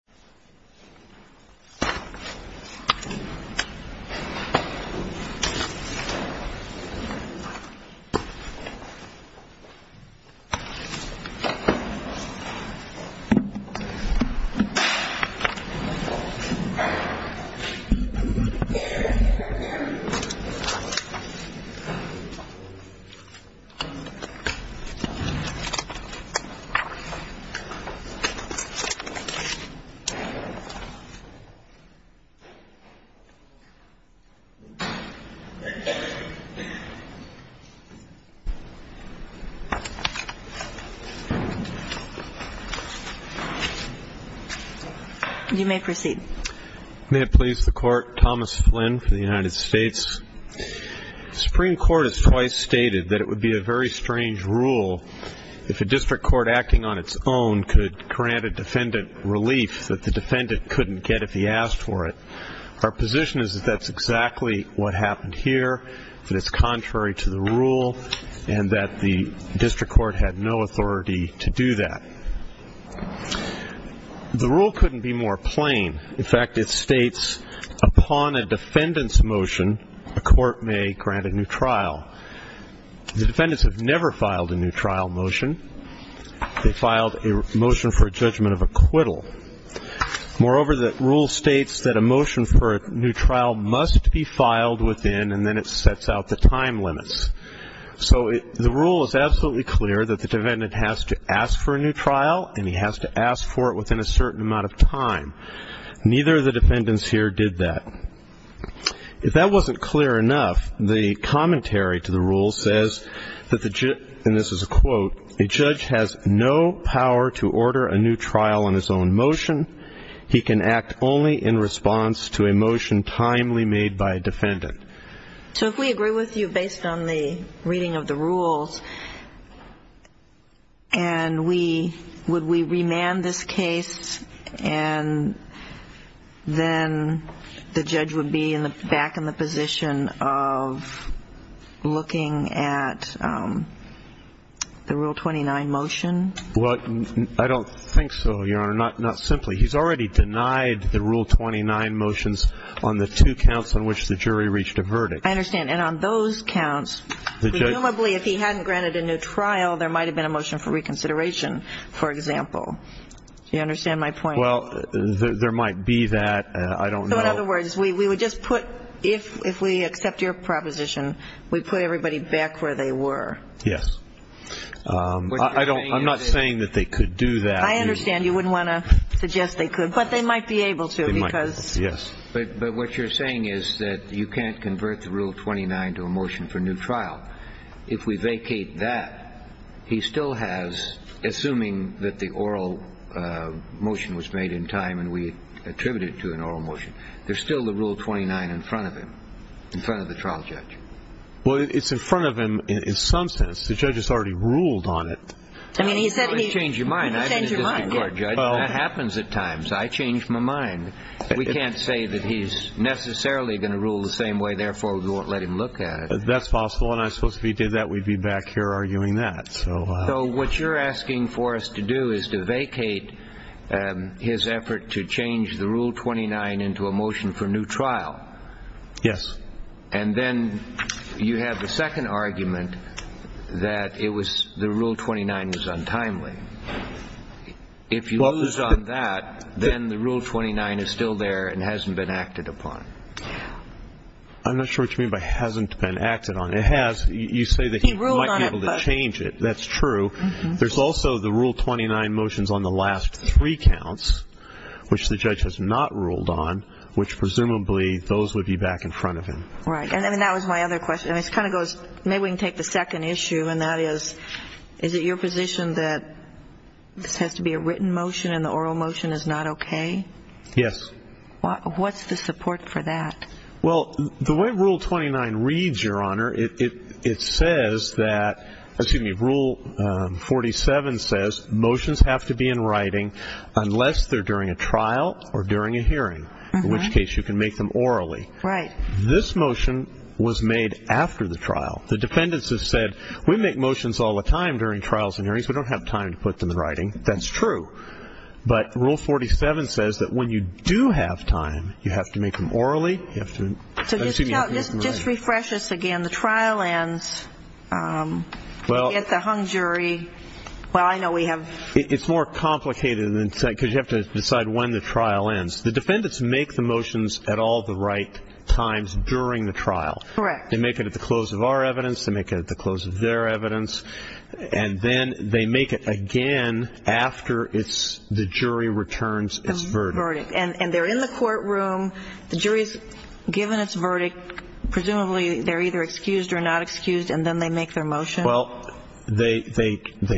Viayra is a city in the Indian subcontinent, located in the Indian subcontinent, in the Indian subcontinent, in the Indian subcontinent, in the Indian subcontinent, in the Indian subcontinent, in the Indian subcontinent, in the Indian subcontinent, in the Indian subcontinent, in the Indian subcontinent, Moreover, the rule states that a motion for a new trial must be filed within, and then it sets out the time limits. So the rule is absolutely clear that the defendant has to ask for a new trial, and he has to ask for it within a certain amount of time. Neither of the defendants here did that. If that wasn't clear enough, the commentary to the rule says, and this is a quote, A judge has no power to order a new trial on his own motion. He can act only in response to a motion timely made by a defendant. So if we agree with you based on the reading of the rules, and we, would we remand this case, and then the judge would be back in the position of looking at the Rule 29 motion? Well, I don't think so, Your Honor. Not simply. He's already denied the Rule 29 motions on the two counts on which the jury reached a verdict. I understand. And on those counts, presumably if he hadn't granted a new trial, there might have been a motion for reconsideration, for example. Do you understand my point? Well, there might be that. I don't know. So in other words, we would just put, if we accept your proposition, we put everybody back where they were. Yes. I don't, I'm not saying that they could do that. I understand. You wouldn't want to suggest they could. But they might be able to. They might be able to, yes. But what you're saying is that you can't convert the Rule 29 to a motion for new trial. If we vacate that, he still has, assuming that the oral motion was made in time and we attribute it to an oral motion, there's still the Rule 29 in front of him, in front of the trial judge. Well, it's in front of him in some sense. The judge has already ruled on it. I mean, he said he changed his mind. That happens at times. I changed my mind. We can't say that he's necessarily going to rule the same way, therefore we won't let him look at it. That's possible, and I suppose if he did that, we'd be back here arguing that. So what you're asking for us to do is to vacate his effort to change the Rule 29 into a motion for new trial. Yes. And then you have the second argument that the Rule 29 was untimely. If you lose on that, then the Rule 29 is still there and hasn't been acted upon. I'm not sure what you mean by hasn't been acted on. It has. You say that he might be able to change it. That's true. There's also the Rule 29 motions on the last three counts, which the judge has not ruled on, which presumably those would be back in front of him. Right. And that was my other question. And it kind of goes, maybe we can take the second issue, and that is, is it your position that this has to be a written motion and the oral motion is not okay? Yes. What's the support for that? Well, the way Rule 29 reads, Your Honor, it says that, excuse me, Rule 47 says motions have to be in writing unless they're during a trial or during a hearing, in which case you can make them orally. Right. This motion was made after the trial. The defendants have said, we make motions all the time during trials and hearings. We don't have time to put them in writing. That's true. But Rule 47 says that when you do have time, you have to make them orally. So just refresh this again. The trial ends at the hung jury. Well, I know we have. It's more complicated because you have to decide when the trial ends. The defendants make the motions at all the right times during the trial. Correct. They make it at the close of our evidence. They make it at the close of their evidence. And then they make it again after the jury returns its verdict. And they're in the courtroom. The jury's given its verdict. Presumably they're either excused or not excused, and then they make their motion. Well, they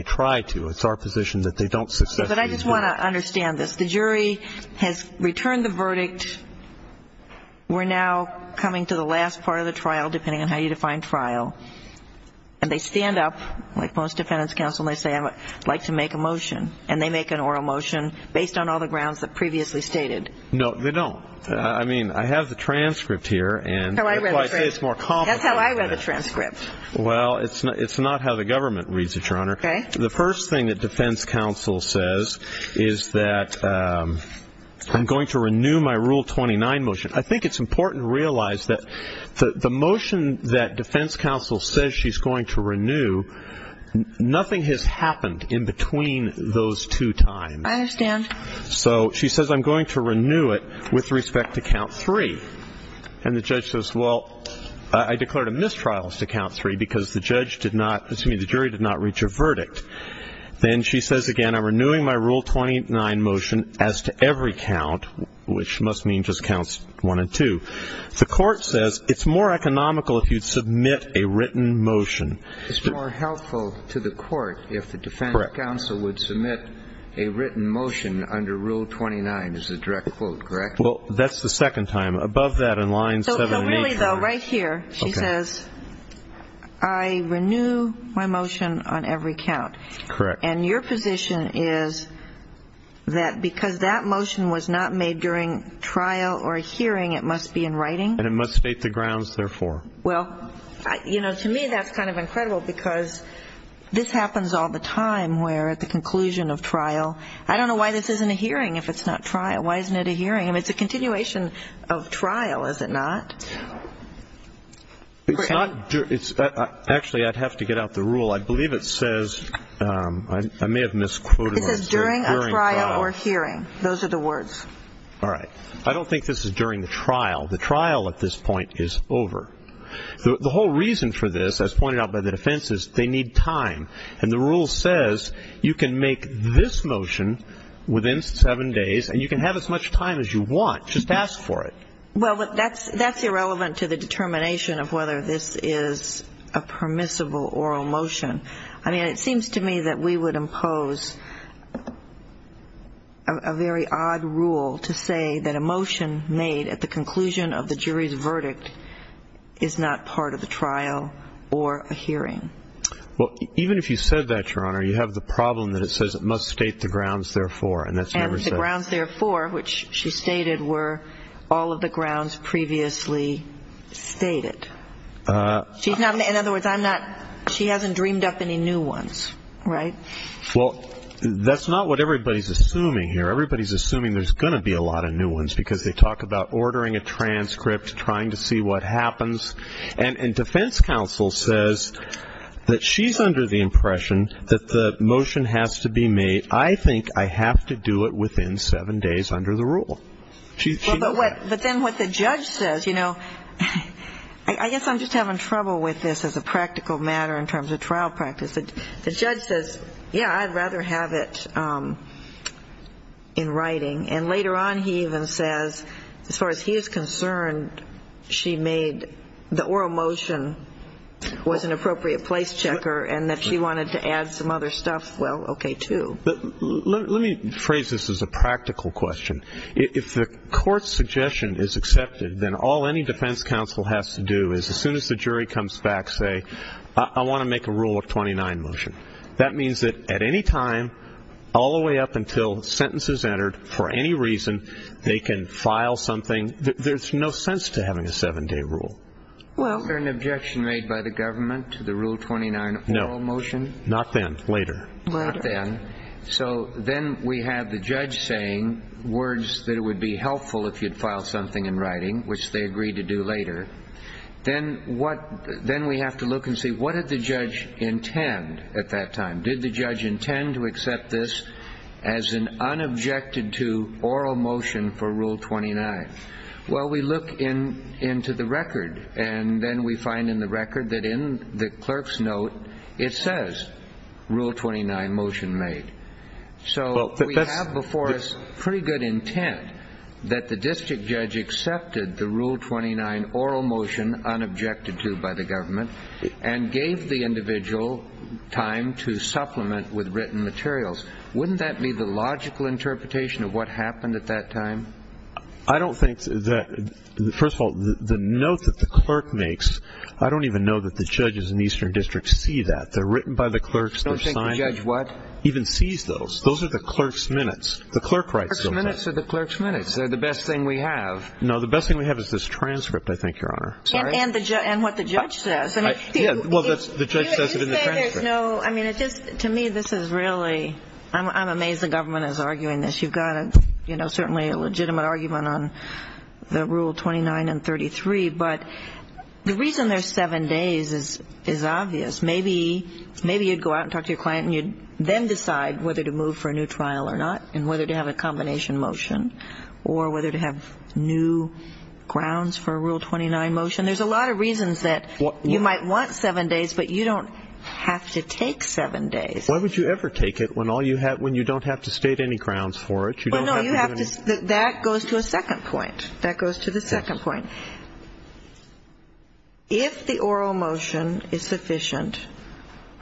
try to. It's our position that they don't successfully do that. But I just want to understand this. The jury has returned the verdict. We're now coming to the last part of the trial, depending on how you define trial. And they stand up, like most defendants counsel, and they say, I'd like to make a motion. And they make an oral motion based on all the grounds that previously stated. No, they don't. I mean, I have the transcript here. That's how I read the transcript. That's how I read the transcript. Well, it's not how the government reads it, Your Honor. Okay. The first thing that defense counsel says is that I'm going to renew my Rule 29 motion. I think it's important to realize that the motion that defense counsel says she's going to renew, nothing has happened in between those two times. I understand. So she says, I'm going to renew it with respect to count three. And the judge says, well, I declared a mistrial as to count three because the jury did not reach a verdict. Then she says again, I'm renewing my Rule 29 motion as to every count, which must mean just counts one and two. The court says it's more economical if you submit a written motion. It's more helpful to the court if the defense counsel would submit a written motion under Rule 29, is the direct quote, correct? Well, that's the second time. Above that in line 78. So really, though, right here she says, I renew my motion on every count. Correct. And your position is that because that motion was not made during trial or hearing, it must be in writing? And it must state the grounds, therefore. Well, you know, to me that's kind of incredible because this happens all the time where at the conclusion of trial, I don't know why this isn't a hearing if it's not trial. Why isn't it a hearing? I mean, it's a continuation of trial, is it not? Actually, I'd have to get out the rule. I believe it says, I may have misquoted it. It says during a trial or hearing. Those are the words. All right. I don't think this is during the trial. The trial at this point is over. The whole reason for this, as pointed out by the defense, is they need time. And the rule says you can make this motion within seven days and you can have as much time as you want. Just ask for it. Well, that's irrelevant to the determination of whether this is a permissible oral motion. I mean, it seems to me that we would impose a very odd rule to say that a motion made at the conclusion of the jury's verdict is not part of the trial or a hearing. Well, even if you said that, Your Honor, you have the problem that it says it must state the grounds, therefore. And the grounds, therefore, which she stated, were all of the grounds previously stated. In other words, she hasn't dreamed up any new ones, right? Well, that's not what everybody's assuming here. Everybody's assuming there's going to be a lot of new ones because they talk about ordering a transcript, trying to see what happens. And defense counsel says that she's under the impression that the motion has to be made. I think I have to do it within seven days under the rule. But then what the judge says, you know, I guess I'm just having trouble with this as a practical matter in terms of trial practice. The judge says, yeah, I'd rather have it in writing. And later on he even says, as far as he's concerned, she made the oral motion was an appropriate place checker and that she wanted to add some other stuff, well, okay, too. Let me phrase this as a practical question. If the court's suggestion is accepted, then all any defense counsel has to do is as soon as the jury comes back say, I want to make a Rule of 29 motion. That means that at any time, all the way up until the sentence is entered, for any reason, they can file something. There's no sense to having a seven-day rule. Was there an objection made by the government to the Rule of 29 oral motion? No. Not then. Later. Not then. So then we have the judge saying words that would be helpful if you'd file something in writing, which they agreed to do later. Then we have to look and see, what did the judge intend at that time? Did the judge intend to accept this as an unobjected to oral motion for Rule 29? Well, we look into the record, and then we find in the record that in the clerk's note it says Rule 29 motion made. So we have before us pretty good intent that the district judge accepted the Rule 29 oral motion unobjected to by the government and gave the individual time to supplement with written materials. Wouldn't that be the logical interpretation of what happened at that time? I don't think that, first of all, the note that the clerk makes, I don't even know that the judges in the Eastern District see that. They're written by the clerks. Don't think the judge what? Even sees those. Those are the clerk's minutes. The clerk writes them. Clerk's minutes are the clerk's minutes. They're the best thing we have. No, the best thing we have is this transcript, I think, Your Honor. And what the judge says. Yeah, well, the judge says it in the transcript. You say there's no, I mean, to me this is really, I'm amazed the government is arguing this. You've got, you know, certainly a legitimate argument on the Rule 29 and 33. But the reason there's seven days is obvious. Maybe you'd go out and talk to your client and you'd then decide whether to move for a new trial or not and whether to have a combination motion or whether to have new grounds for a Rule 29 motion. There's a lot of reasons that you might want seven days, but you don't have to take seven days. Why would you ever take it when you don't have to state any grounds for it? That goes to a second point. That goes to the second point. If the oral motion is sufficient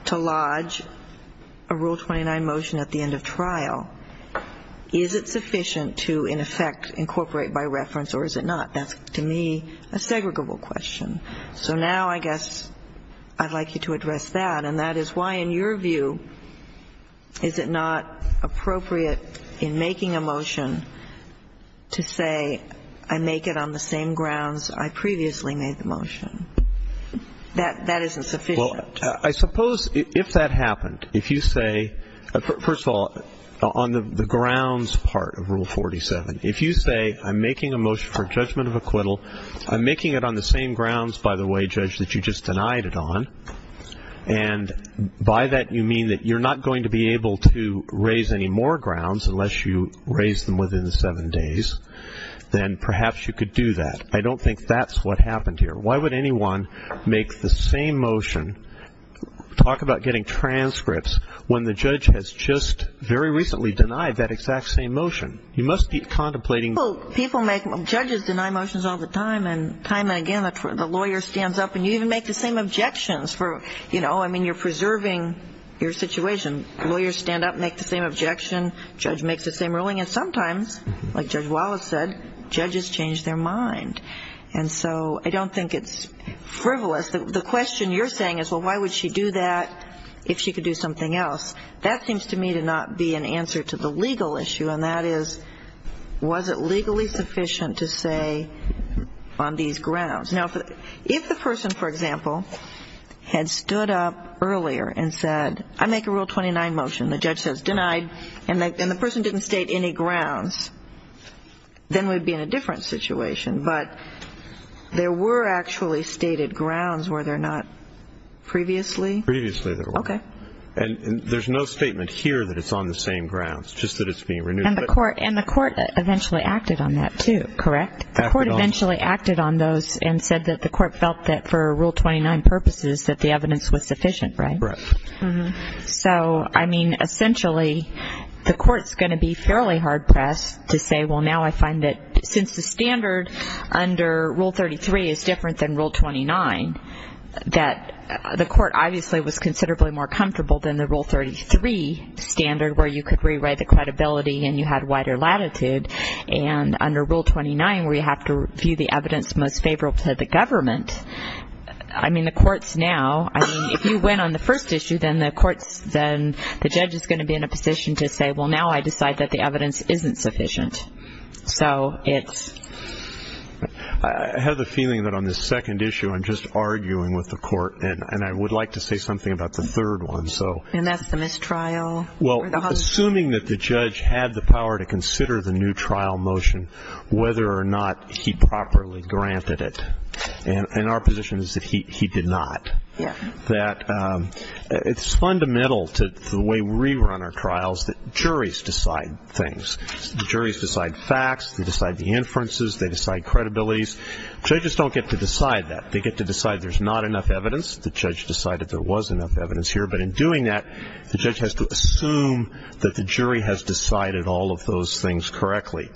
to lodge a Rule 29 motion at the end of trial, is it sufficient to, in effect, incorporate by reference or is it not? That's, to me, a segregable question. So now I guess I'd like you to address that. And that is why, in your view, is it not appropriate in making a motion to say, I make it on the same grounds I previously made the motion. That isn't sufficient. Well, I suppose if that happened, if you say, first of all, on the grounds part of Rule 47, if you say I'm making a motion for judgment of acquittal, I'm making it on the same grounds, by the way, Judge, that you just denied it on, and by that you mean that you're not going to be able to raise any more grounds unless you raise them within seven days, then perhaps you could do that. I don't think that's what happened here. Why would anyone make the same motion, talk about getting transcripts, when the judge has just very recently denied that exact same motion? You must be contemplating. People make, judges deny motions all the time, and time and again the lawyer stands up and you even make the same objections for, you know, I mean, you're preserving your situation. Lawyers stand up and make the same objection. Judge makes the same ruling. And sometimes, like Judge Wallace said, judges change their mind. And so I don't think it's frivolous. The question you're saying is, well, why would she do that if she could do something else? That seems to me to not be an answer to the legal issue, and that is, was it legally sufficient to say on these grounds? Now, if the person, for example, had stood up earlier and said, I make a Rule 29 motion, the judge says denied, and the person didn't state any grounds, then we'd be in a different situation. But there were actually stated grounds were there not previously? Previously there were. Okay. And there's no statement here that it's on the same grounds, just that it's being renewed. And the court eventually acted on that too, correct? Correct. The court eventually acted on those and said that the court felt that for Rule 29 purposes that the evidence was sufficient, right? Correct. So, I mean, essentially the court's going to be fairly hard-pressed to say, well, now I find that since the standard under Rule 33 is different than Rule 29, that the court obviously was considerably more comfortable than the Rule 33 standard where you could rewrite the credibility and you had wider latitude, and under Rule 29 where you have to view the evidence most favorable to the government. I mean, the court's now, I mean, if you went on the first issue, then the judge is going to be in a position to say, well, now I decide that the evidence isn't sufficient. So it's... I have the feeling that on this second issue I'm just arguing with the court, and I would like to say something about the third one. And that's the mistrial? Well, assuming that the judge had the power to consider the new trial motion, whether or not he properly granted it, and our position is that he did not, that it's fundamental to the way we run our trials that juries decide things. The juries decide facts, they decide the inferences, they decide credibilities. Judges don't get to decide that. They get to decide there's not enough evidence. The judge decided there was enough evidence here. But in doing that, the judge has to assume that the jury has decided all of those things correctly.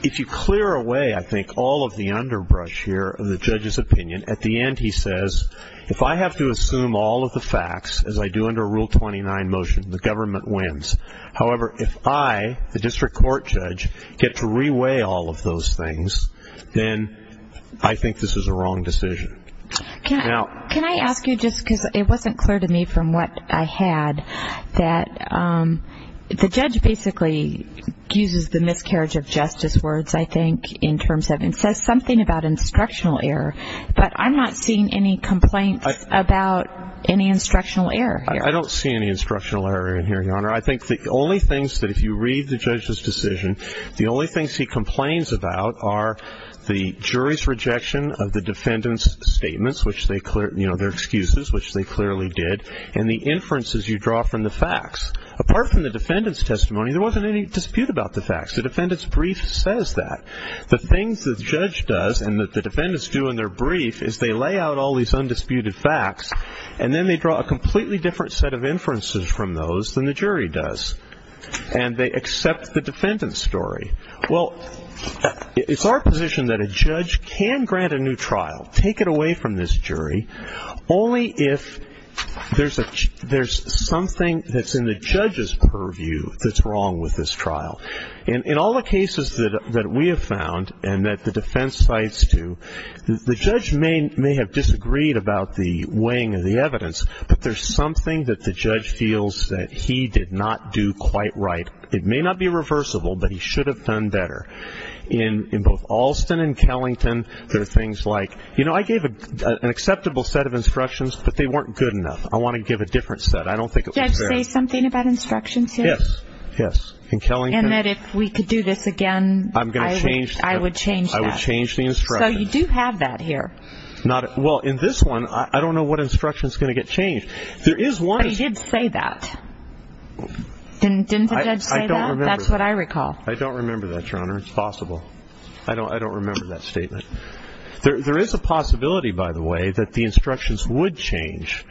If you clear away, I think, all of the underbrush here of the judge's opinion, at the end he says, if I have to assume all of the facts, as I do under Rule 29 motion, the government wins. However, if I, the district court judge, get to reweigh all of those things, then I think this is a wrong decision. Can I ask you, just because it wasn't clear to me from what I had, that the judge basically uses the miscarriage of justice words, I think, in terms of, and says something about instructional error, but I'm not seeing any complaints about any instructional error here. I don't see any instructional error in here, Your Honor. I think the only things that if you read the judge's decision, the only things he complains about are the jury's rejection of the defendant's statements, their excuses, which they clearly did, and the inferences you draw from the facts. Apart from the defendant's testimony, there wasn't any dispute about the facts. The defendant's brief says that. The things the judge does and that the defendants do in their brief is they lay out all these undisputed facts, and then they draw a completely different set of inferences from those than the jury does. And they accept the defendant's story. Well, it's our position that a judge can grant a new trial, take it away from this jury, only if there's something that's in the judge's purview that's wrong with this trial. In all the cases that we have found and that the defense cites to, the judge may have disagreed about the weighing of the evidence, but there's something that the judge feels that he did not do quite right. It may not be reversible, but he should have done better. In both Alston and Kellington, there are things like, you know, I gave an acceptable set of instructions, but they weren't good enough. I want to give a different set. I don't think it was fair. Did the judge say something about instructions here? Yes, yes. In Kellington? And that if we could do this again, I would change that. I would change the instructions. So you do have that here. Well, in this one, I don't know what instruction is going to get changed. But he did say that. Didn't the judge say that? That's what I recall. I don't remember that, Your Honor. It's possible. I don't remember that statement. There is a possibility, by the way, that the instructions would change.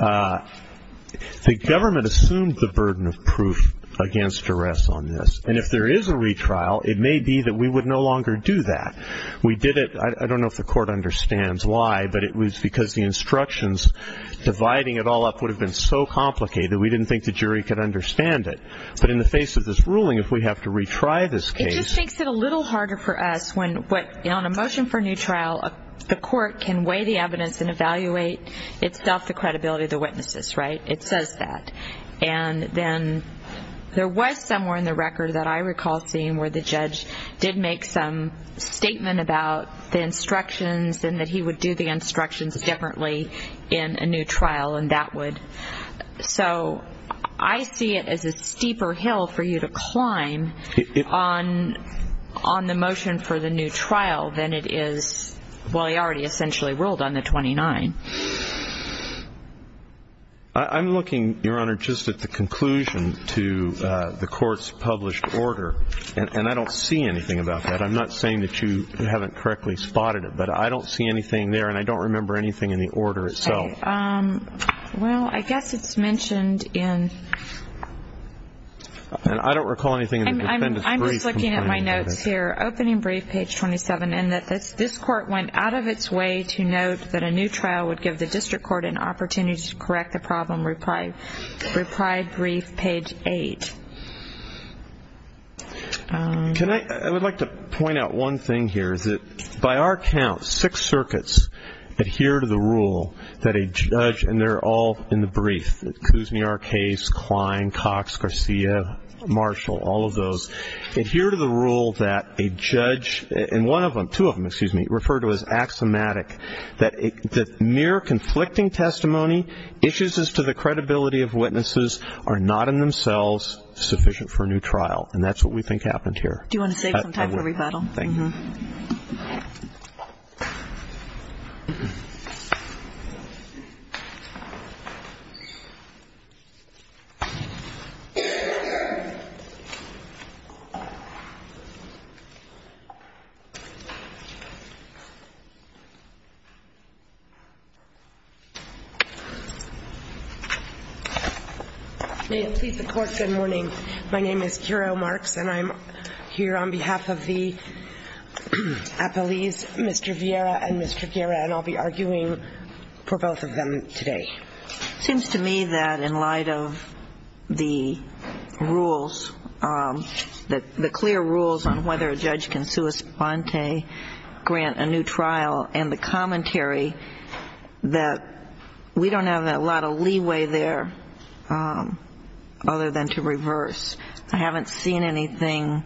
The government assumed the burden of proof against duress on this, and if there is a retrial, it may be that we would no longer do that. We did it. I don't know if the court understands why, but it was because the instructions dividing it all up would have been so complicated, we didn't think the jury could understand it. But in the face of this ruling, if we have to retry this case. It just makes it a little harder for us when on a motion for a new trial, the court can weigh the evidence and evaluate itself the credibility of the witnesses, right? It says that. And then there was somewhere in the record that I recall seeing where the judge did make some statement about the instructions and that he would do the instructions differently in a new trial, and that would. So I see it as a steeper hill for you to climb on the motion for the new trial than it is while you already essentially ruled on the 29. I'm looking, Your Honor, just at the conclusion to the court's published order, and I don't see anything about that. I'm not saying that you haven't correctly spotted it, but I don't see anything there and I don't remember anything in the order itself. Okay. Well, I guess it's mentioned in. I don't recall anything in the defendant's brief. I'm just looking at my notes here. Opening brief, page 27, and that this court went out of its way to note that a new trial would give the district court an opportunity to correct the problem. Reply brief, page 8. I would like to point out one thing here, is that by our count six circuits adhere to the rule that a judge, and they're all in the brief, Kuzny, Arkays, Klein, Cox, Garcia, Marshall, all of those, adhere to the rule that a judge, and one of them, two of them, excuse me, referred to as axiomatic, that mere conflicting testimony, issues as to the credibility of witnesses, are not in themselves sufficient for a new trial. And that's what we think happened here. Do you want to save some time for rebuttal? Thank you. May it please the Court, good morning. My name is Kyra Marks, and I'm here on behalf of the appellees, Mr. Vieira and Mr. Guerra, and I'll be arguing for both of them today. It seems to me that in light of the rules, the clear rules on whether a judge can sua sponte grant a new trial, and the commentary that we don't have a lot of leeway there other than to reverse, I haven't seen anything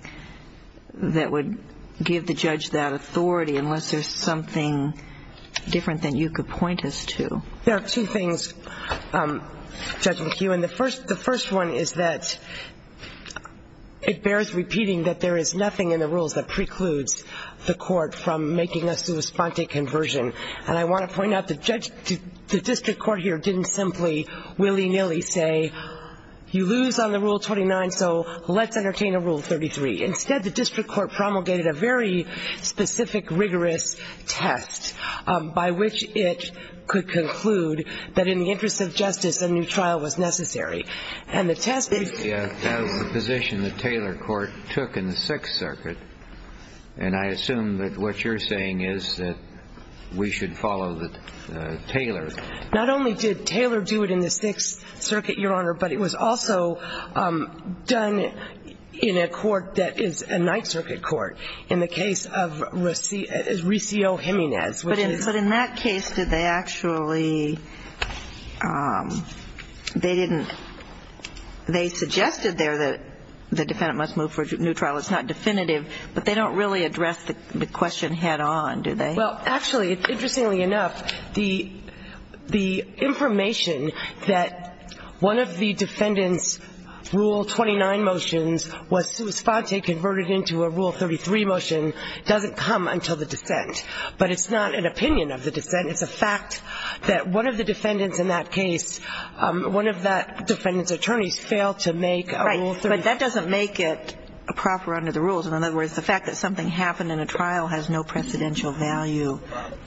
that would give the judge that authority, unless there's something different that you could point us to. There are two things, Judge McHugh, and the first one is that it bears repeating that there is nothing in the rules that precludes the Court from making a sua sponte conversion. And I want to point out the district court here didn't simply willy-nilly say, you lose on the Rule 29, so let's entertain a Rule 33. Instead, the district court promulgated a very specific, rigorous test, by which it could conclude that in the interest of justice, a new trial was necessary. And the test is the position that Taylor Court took in the Sixth Circuit, and I assume that what you're saying is that we should follow Taylor. Not only did Taylor do it in the Sixth Circuit, Your Honor, but it was also done in a court that is a Ninth Circuit court, in the case of Riccio-Jimenez. But in that case, did they actually, they didn't, they suggested there that the defendant must move for a new trial. It's not definitive, but they don't really address the question head-on, do they? Well, actually, interestingly enough, the information that one of the defendant's Rule 29 motions was sua sponte converted into a Rule 33 motion doesn't come until the defense. But it's not an opinion of the defense. It's a fact that one of the defendants in that case, one of that defendant's attorneys failed to make a Rule 33. Right. But that doesn't make it proper under the rules. In other words, the fact that something happened in a trial has no precedential value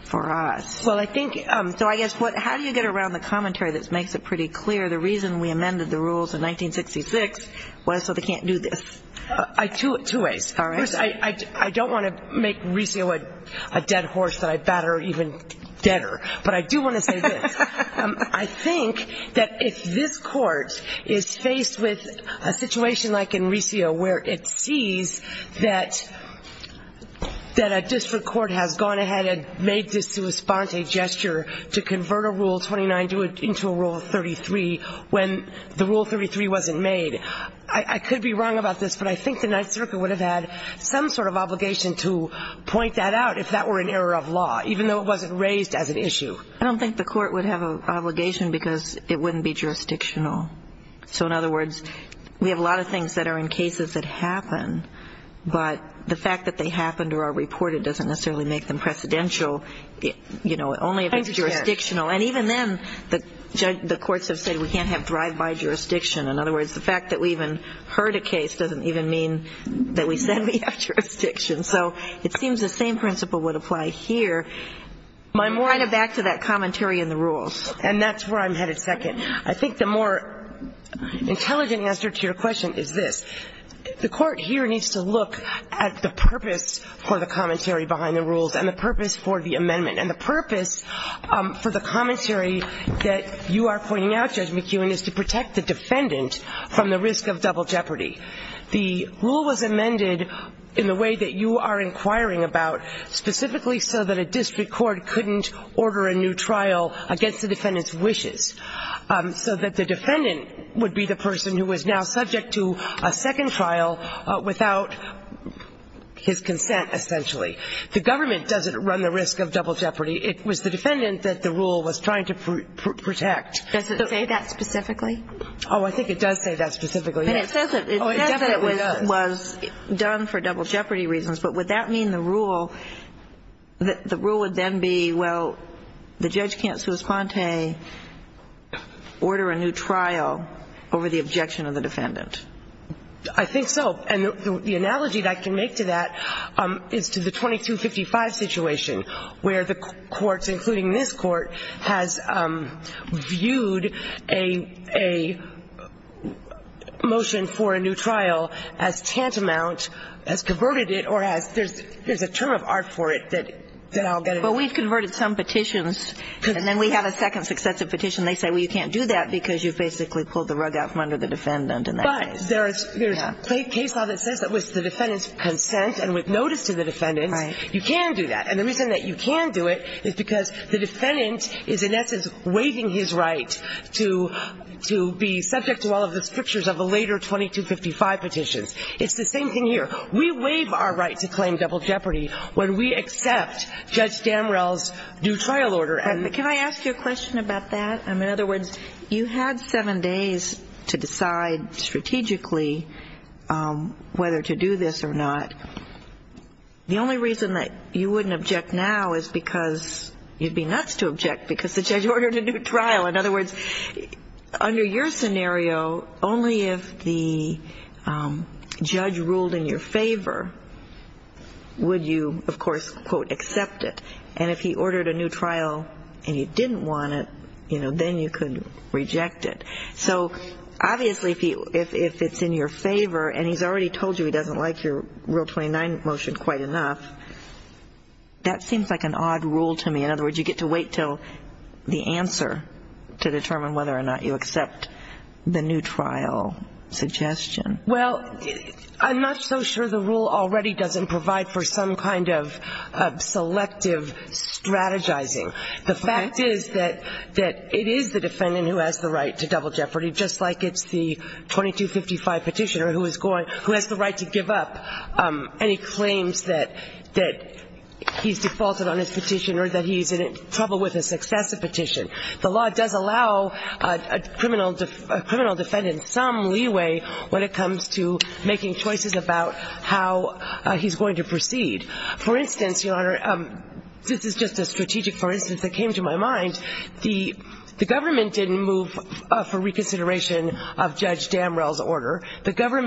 for us. Well, I think, so I guess, how do you get around the commentary that makes it pretty clear the reason we amended the rules in 1966 was so they can't do this? Two ways. All right. First, I don't want to make Resio a dead horse that I batter even deader, but I do want to say this. I think that if this Court is faced with a situation like in Resio where it sees that a district court has gone ahead and made the sua sponte gesture to convert a Rule 29 into a Rule 33 when the Rule 33 wasn't made, I could be wrong about this, but I think the Ninth Circuit would have had some sort of obligation to point that out if that were an error of law, even though it wasn't raised as an issue. I don't think the Court would have an obligation because it wouldn't be jurisdictional. So, in other words, we have a lot of things that are in cases that happen, but the fact that they happened or are reported doesn't necessarily make them precedential, you know, only if it's jurisdictional. And even then, the courts have said we can't have drive-by jurisdiction. In other words, the fact that we even heard a case doesn't even mean that we send the attribution. So it seems the same principle would apply here. My point is back to that commentary in the rules. And that's where I'm headed second. I think the more intelligent answer to your question is this. The Court here needs to look at the purpose for the commentary behind the rules and the purpose for the amendment. And the purpose for the commentary that you are pointing out, Judge McKeown, is to protect the defendant from the risk of double jeopardy. The rule was amended in the way that you are inquiring about, specifically so that a district court couldn't order a new trial against the defendant's wishes, so that the defendant would be the person who is now subject to a second trial without his consent, essentially. The government doesn't run the risk of double jeopardy. It was the defendant that the rule was trying to protect. Does it say that specifically? Oh, I think it does say that specifically, yes. But it doesn't. Oh, it definitely does. It says it was done for double jeopardy reasons. But would that mean the rule would then be, well, the judge can't sui sponte, order a new trial over the objection of the defendant? I think so. And the analogy that I can make to that is to the 2255 situation, where the courts, a motion for a new trial has tantamount, has converted it, or there's a term of art for it that I'll get into. But we've converted some petitions, and then we have a second successive petition. They say, well, you can't do that because you've basically pulled the rug out from under the defendant in that case. But there's case law that says that with the defendant's consent and with notice to the defendant, you can do that. And the reason that you can do it is because the defendant is, in essence, waiving his right to be subject to all of the strictures of the later 2255 petitions. It's the same thing here. We waive our right to claim double jeopardy when we accept Judge Damrell's new trial order. Can I ask you a question about that? In other words, you had seven days to decide strategically whether to do this or not. In other words, under your scenario, only if the judge ruled in your favor would you, of course, quote, accept it. And if he ordered a new trial and you didn't want it, you know, then you could reject it. So obviously if it's in your favor, and he's already told you he doesn't like your Rule 29 motion quite enough, that seems like an odd rule to me. In other words, you get to wait until the answer to determine whether or not you accept the new trial suggestion. Well, I'm not so sure the rule already doesn't provide for some kind of selective strategizing. The fact is that it is the defendant who has the right to double jeopardy, just like it's the 2255 petitioner who has the right to give up any claims that he's faulted on his petition or that he's in trouble with a successive petition. The law does allow a criminal defendant some leeway when it comes to making choices about how he's going to proceed. For instance, Your Honor, this is just a strategic for instance that came to my mind. The government didn't move for reconsideration of Judge Damrell's order. But now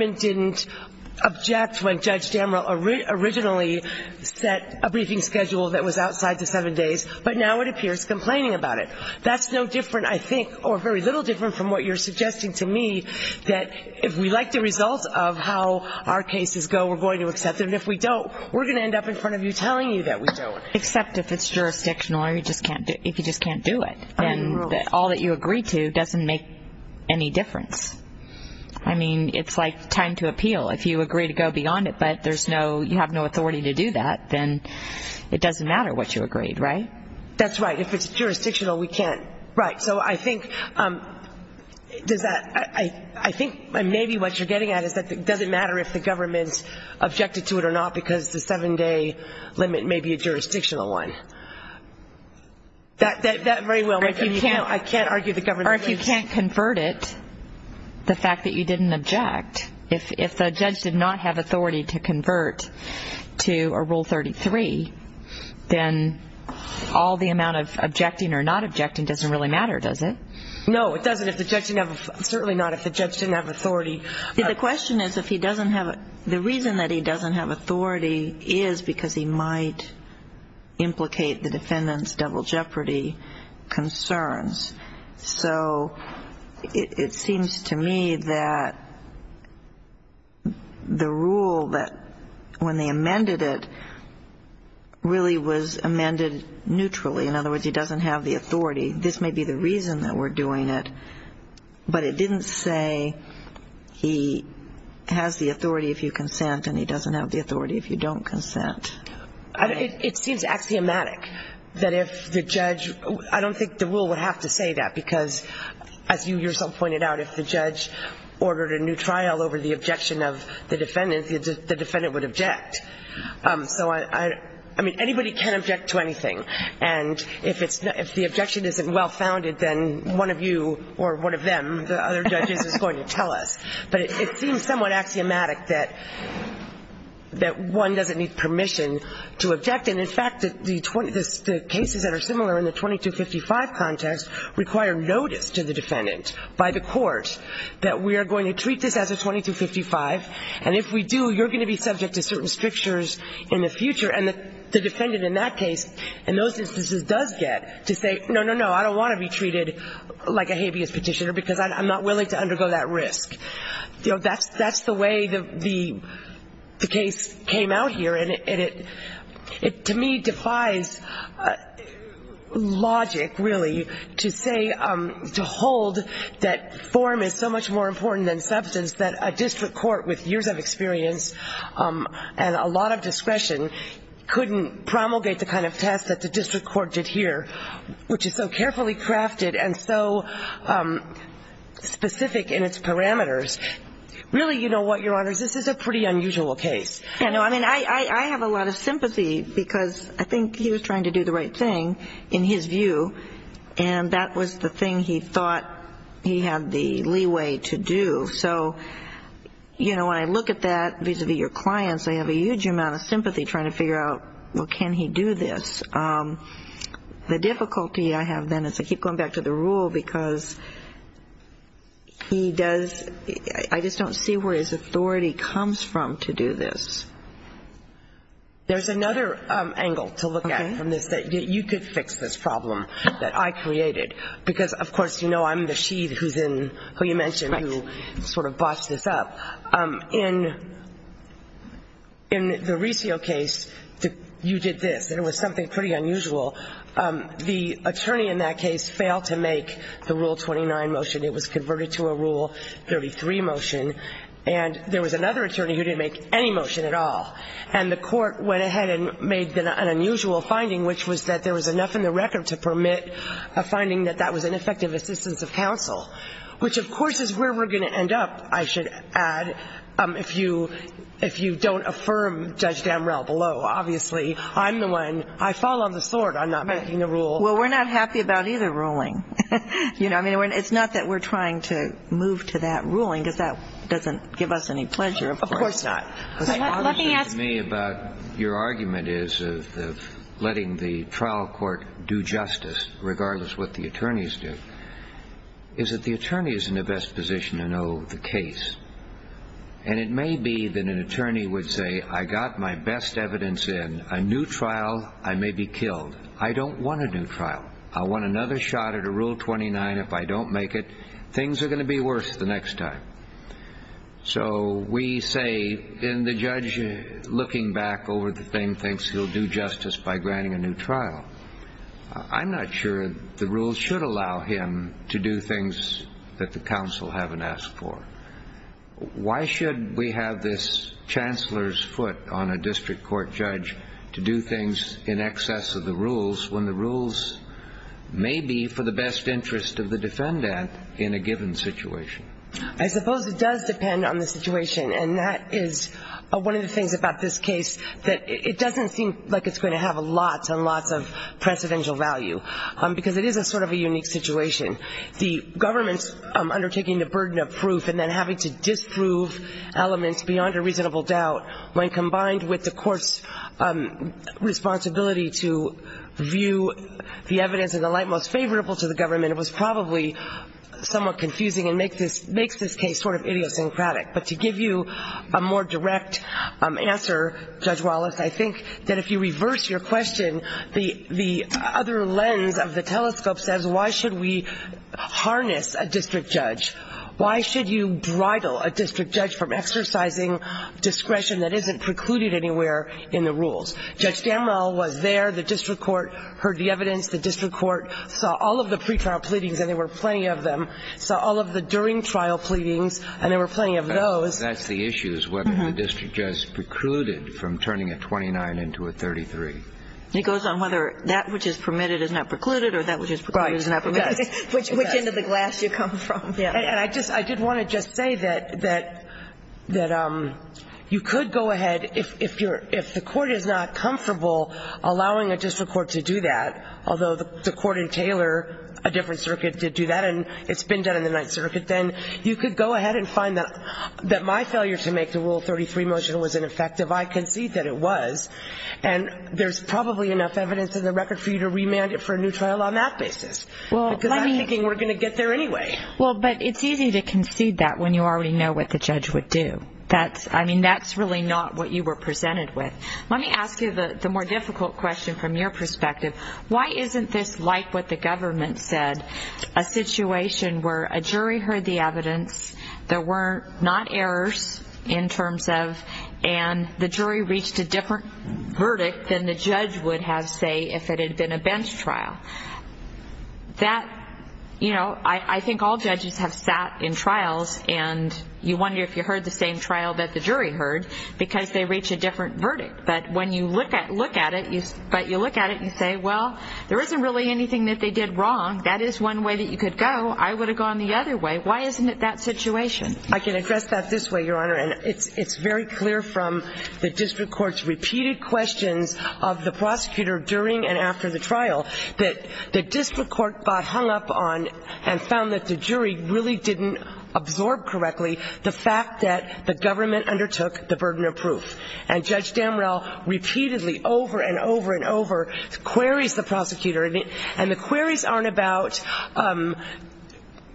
it appears complaining about it. That's no different, I think, or very little different from what you're suggesting to me that if we like the results of how our cases go, we're going to accept them. And if we don't, we're going to end up in front of you telling you that we don't. Except if it's jurisdictional or if you just can't do it. And all that you agree to doesn't make any difference. I mean, it's like time to appeal. It doesn't matter what you agreed, right? That's right. If it's jurisdictional, we can't. Right. So I think maybe what you're getting at is that it doesn't matter if the government objected to it or not because the seven-day limit may be a jurisdictional one. That very well makes sense. I can't argue the government agrees. Or if you can't convert it, the fact that you didn't object, if the judge did not have authority to convert to a Rule 33, then all the amount of objecting or not objecting doesn't really matter, does it? No, it doesn't if the judge didn't have authority. Certainly not if the judge didn't have authority. The question is if he doesn't have authority. The reason that he doesn't have authority is because he might implicate the defendant's double jeopardy concerns. So it seems to me that the rule that when they amended it really was amended neutrally. In other words, he doesn't have the authority. This may be the reason that we're doing it, but it didn't say he has the authority if you consent and he doesn't have the authority if you don't consent. It seems axiomatic that if the judge — I don't think the rule would have to say that because, as you yourself pointed out, if the judge ordered a new trial over the objection of the defendant, the defendant would object. So, I mean, anybody can object to anything. And if the objection isn't well-founded, then one of you or one of them, the other judges, is going to tell us. But it seems somewhat axiomatic that one doesn't need permission to object. And, in fact, the cases that are similar in the 2255 context require notice to the defendant by the court that we are going to treat this as a 2255, and if we do, you're going to be subject to certain strictures in the future. And the defendant in that case, in those instances, does get to say, no, no, no, I don't want to be treated like a habeas petitioner because I'm not willing to undergo that risk. You know, that's the way the case came out here. And it, to me, defies logic, really, to say, to hold that form is so much more important than substance that a district court with years of experience and a lot of discretion couldn't promulgate the kind of test that the district court did here, which is so carefully crafted and so specific in its parameters. Really, you know what, Your Honors, this is a pretty unusual case. I know. I mean, I have a lot of sympathy because I think he was trying to do the right thing, in his view, and that was the thing he thought he had the leeway to do. So, you know, when I look at that vis-a-vis your clients, I have a huge amount of sympathy trying to figure out, well, can he do this? The difficulty I have then is I keep going back to the rule because he does, I just don't see where his authority comes from to do this. There's another angle to look at from this that you could fix this problem that I created, because, of course, you know I'm the she who's in, who you mentioned, who sort of bossed this up. In the Riccio case, you did this, and it was something pretty unusual. The attorney in that case failed to make the Rule 29 motion. It was converted to a Rule 33 motion, and there was another attorney who didn't make any motion at all, and the court went ahead and made an unusual finding, which was that there was enough in the record to permit a finding that that was ineffective assistance of counsel, which, of course, is where we're going to end up, I should add, if you don't affirm Judge Damrell below. Obviously, I'm the one. I fall on the sword on not making the rule. Well, we're not happy about either ruling. You know, I mean, it's not that we're trying to move to that ruling because that doesn't give us any pleasure, of course. Of course not. Let me ask you about your argument is of letting the trial court do justice, regardless of what the attorneys do, is that the attorney is in the best position to know the case, and it may be that an attorney would say, I got my best evidence in. A new trial, I may be killed. I don't want a new trial. I want another shot at a Rule 29 if I don't make it. Things are going to be worse the next time. So we say, and the judge, looking back over the thing, thinks he'll do justice by granting a new trial. I'm not sure the rules should allow him to do things that the counsel haven't asked for. Why should we have this chancellor's foot on a district court judge to do things in excess of the rules when the rules may be for the best interest of the defendant in a given situation? I suppose it does depend on the situation, and that is one of the things about this case, that it doesn't seem like it's going to have a lot on lots of presidential value, because it is a sort of a unique situation. The government undertaking the burden of proof and then having to disprove elements beyond a reasonable doubt, when combined with the court's responsibility to view the evidence in the light most favorable to the government, it was probably somewhat confusing and makes this case sort of idiosyncratic. But to give you a more direct answer, Judge Wallace, I think that if you reverse your question, the other lens of the case, why should you bridle a district judge from exercising discretion that isn't precluded anywhere in the rules? Judge Damrell was there. The district court heard the evidence. The district court saw all of the pretrial pleadings, and there were plenty of them, saw all of the during trial pleadings, and there were plenty of those. That's the issue, is whether the district judge precluded from turning a 29 into a 33. It goes on whether that which is permitted is not precluded or that which is precluded is not precluded. Right. Yes. Which end of the glass you come from. And I did want to just say that you could go ahead, if the court is not comfortable allowing a district court to do that, although the court in Taylor, a different circuit, did do that, and it's been done in the Ninth Circuit, then you could go ahead and find that my failure to make the Rule 33 motion was ineffective. I concede that it was, and there's probably enough evidence in the record for you to remand it for a new trial on that basis, because I'm thinking we're going to get there anyway. Well, but it's easy to concede that when you already know what the judge would do. I mean, that's really not what you were presented with. Let me ask you the more difficult question from your perspective. Why isn't this like what the government said, a situation where a jury heard the evidence, there were not errors in terms of, and the jury reached a different verdict than the judge would have, say, if it had been a bench trial? That, you know, I think all judges have sat in trials, and you wonder if you heard the same trial that the jury heard, because they reach a different verdict. But when you look at it, you say, well, there isn't really anything that they did wrong. That is one way that you could go. I would have gone the other way. Why isn't it that situation? I can address that this way, Your Honor, and it's very clear from the district court's repeated questions of the prosecutor during and after the trial that the district court got hung up on and found that the jury really didn't absorb correctly the fact that the government undertook the burden of proof. And Judge Damrell repeatedly, over and over and over, queries the prosecutor, and the queries aren't about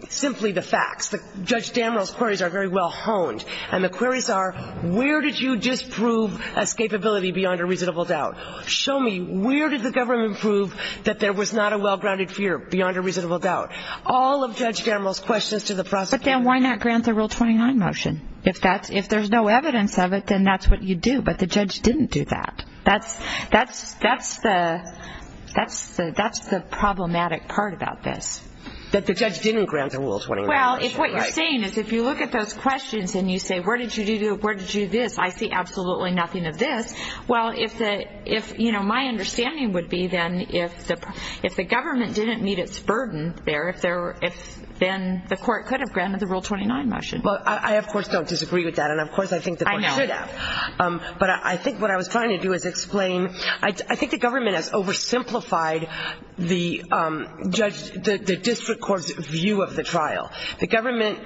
simply the facts. Judge Damrell's queries are very well honed, and the queries are, where did you disprove escapability beyond a reasonable doubt? Show me, where did the government prove that there was not a well-grounded fear beyond a reasonable doubt? All of Judge Damrell's questions to the prosecutor. But then why not grant the Rule 29 motion? If there's no evidence of it, then that's what you do. But the judge didn't do that. That's the problematic part about this. That the judge didn't grant the Rule 29 motion. Well, if what you're saying is, if you look at those questions and you say, where did you do this? I see absolutely nothing of this. Well, my understanding would be, then, if the government didn't meet its burden there, then the court could have granted the Rule 29 motion. Well, I, of course, don't disagree with that, and, of course, I think the court should have. I know. But I think what I was trying to do is explain, I think the government has oversimplified the district court's view of the trial. The government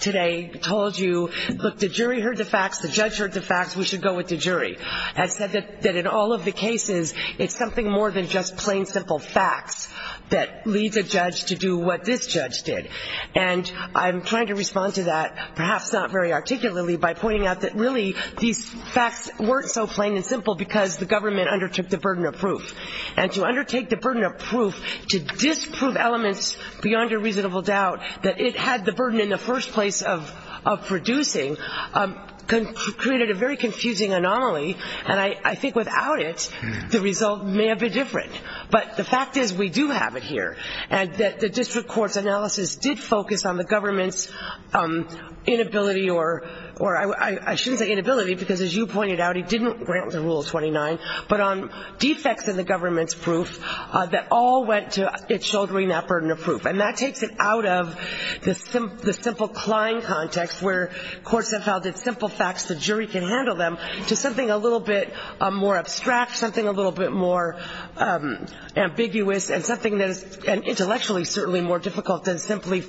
today told you, look, the jury heard the facts, the judge heard the facts, we should go with the jury. And said that in all of the cases, it's something more than just plain, simple facts that lead the judge to do what this judge did. And I'm trying to respond to that, perhaps not very articulately, by pointing out that, really, these facts weren't so plain and simple because the government's inability to do this, and to undertake the burden of proof, to disprove elements beyond a reasonable doubt that it had the burden in the first place of producing, created a very confusing anomaly, and I think without it, the result may have been different. But the fact is, we do have it here, and the district court's analysis did focus on the government's inability or, I shouldn't say inability, because, as you pointed out, it didn't grant the Rule of 29, but on defects in the government's proof that all went to its shouldering that burden of proof. And that takes it out of the simple cline context where courts have held it simple facts, the jury can handle them, to something a little bit more abstract, something a little bit more ambiguous, and something that is intellectually certainly more difficult than simply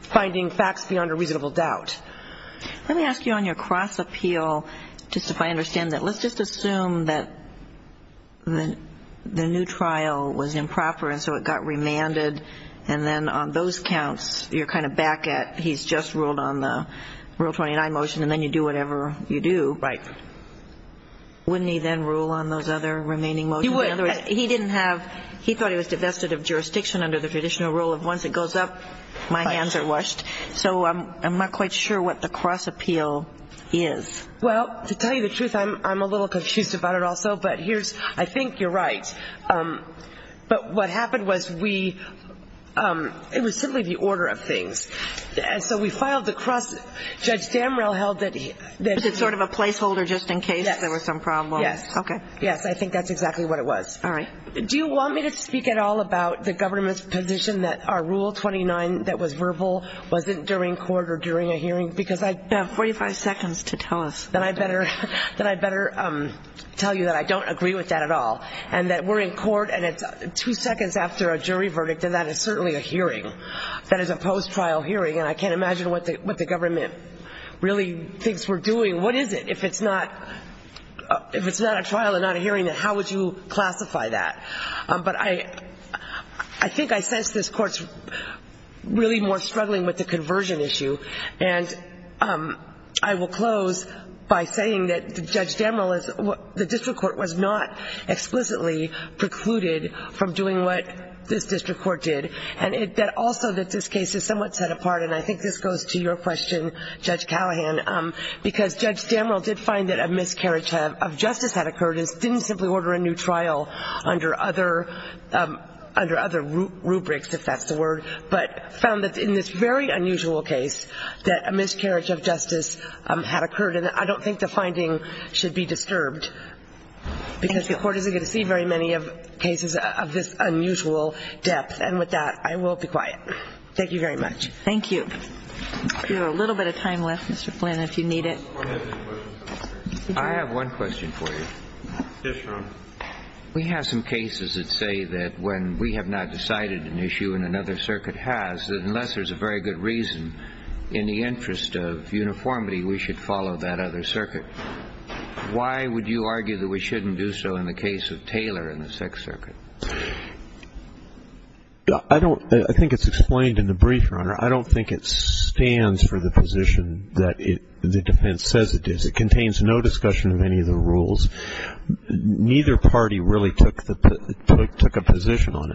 finding facts beyond a reasonable doubt. Let me ask you on your cross-appeal, just if I understand that. Let's just assume that the new trial was improper, and so it got remanded, and then on those counts, you're kind of back at, he's just ruled on the Rule of 29 motion, and then you do whatever you do. Right. Wouldn't he then rule on those other remaining motions? He would. In other words, he didn't have, he thought he was divested of jurisdiction under the traditional rule of once it goes up, my hands are washed. So I'm not quite sure what the cross-appeal is. Well, to tell you the truth, I'm a little confused about it also. But here's, I think you're right. But what happened was we, it was simply the order of things. So we filed the cross, Judge Damrell held it. Was it sort of a placeholder just in case there was some problem? Yes. Okay. Yes, I think that's exactly what it was. Do you want me to speak at all about the government's position that our Rule 29 that was verbal wasn't during court or during a hearing? Because I have 45 seconds to tell us. Then I better tell you that I don't agree with that at all. And that we're in court, and it's two seconds after a jury verdict, and that is certainly a hearing. That is a post-trial hearing, and I can't imagine what the government really thinks we're doing. What is it? If it's not a trial and not a hearing, then how would you classify that? But I think I sense this court's really more struggling with the conversion issue. And I will close by saying that Judge Damrell is, the district court was not explicitly precluded from doing what this district court did. And also that this case is somewhat set apart, and I think this goes to your question, Judge Callahan, because Judge Damrell did find that a miscarriage of justice had occurred and didn't simply order a new trial under other rubrics, if that's the word, but found that in this very unusual case that a miscarriage of justice had occurred. And I don't think the finding should be disturbed because the court isn't going to see very many cases of this unusual depth. And with that, I will be quiet. Thank you very much. Thank you. We have a little bit of time left, Mr. Flynn, if you need it. I have one question for you. Yes, Your Honor. We have some cases that say that when we have not decided an issue and another circuit has, that unless there's a very good reason, in the interest of uniformity, we should follow that other circuit. Why would you argue that we shouldn't do so in the case of Taylor and the Sixth Circuit? I don't – I think it's explained in the brief, Your Honor. I don't think it stands for the position that the defense says it does. It contains no discussion of any of the rules. Neither party really took a position on it.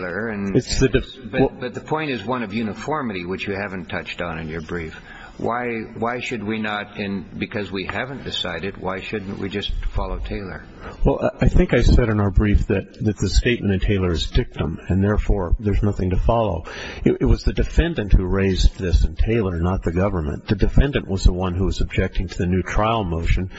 But the point is one of uniformity, which you haven't touched on in your brief. Why should we not, because we haven't decided, why shouldn't we just follow Taylor? Well, I think I said in our brief that the statement in Taylor is dictum, and therefore there's nothing to follow. It was the defendant who raised this in Taylor, not the government. The defendant was the one who was objecting to the new trial motion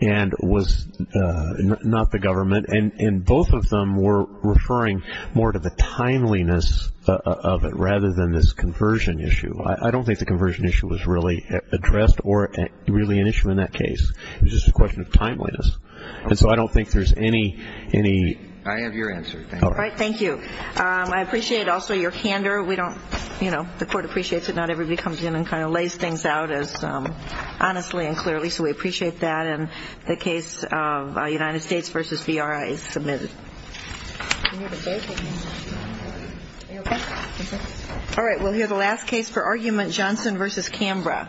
and was not the government. And both of them were referring more to the timeliness of it rather than this conversion issue. I don't think the conversion issue was really addressed or really an issue in that case. It was just a question of timeliness. And so I don't think there's any – I have your answer. Thank you. All right, thank you. I appreciate also your candor. We don't – you know, the court appreciates it. Not everybody comes in and kind of lays things out as honestly and clearly. So we appreciate that. And the case of United States v. BRI is submitted. All right, we'll hear the last case for argument, Johnson v. Canberra. Thank you.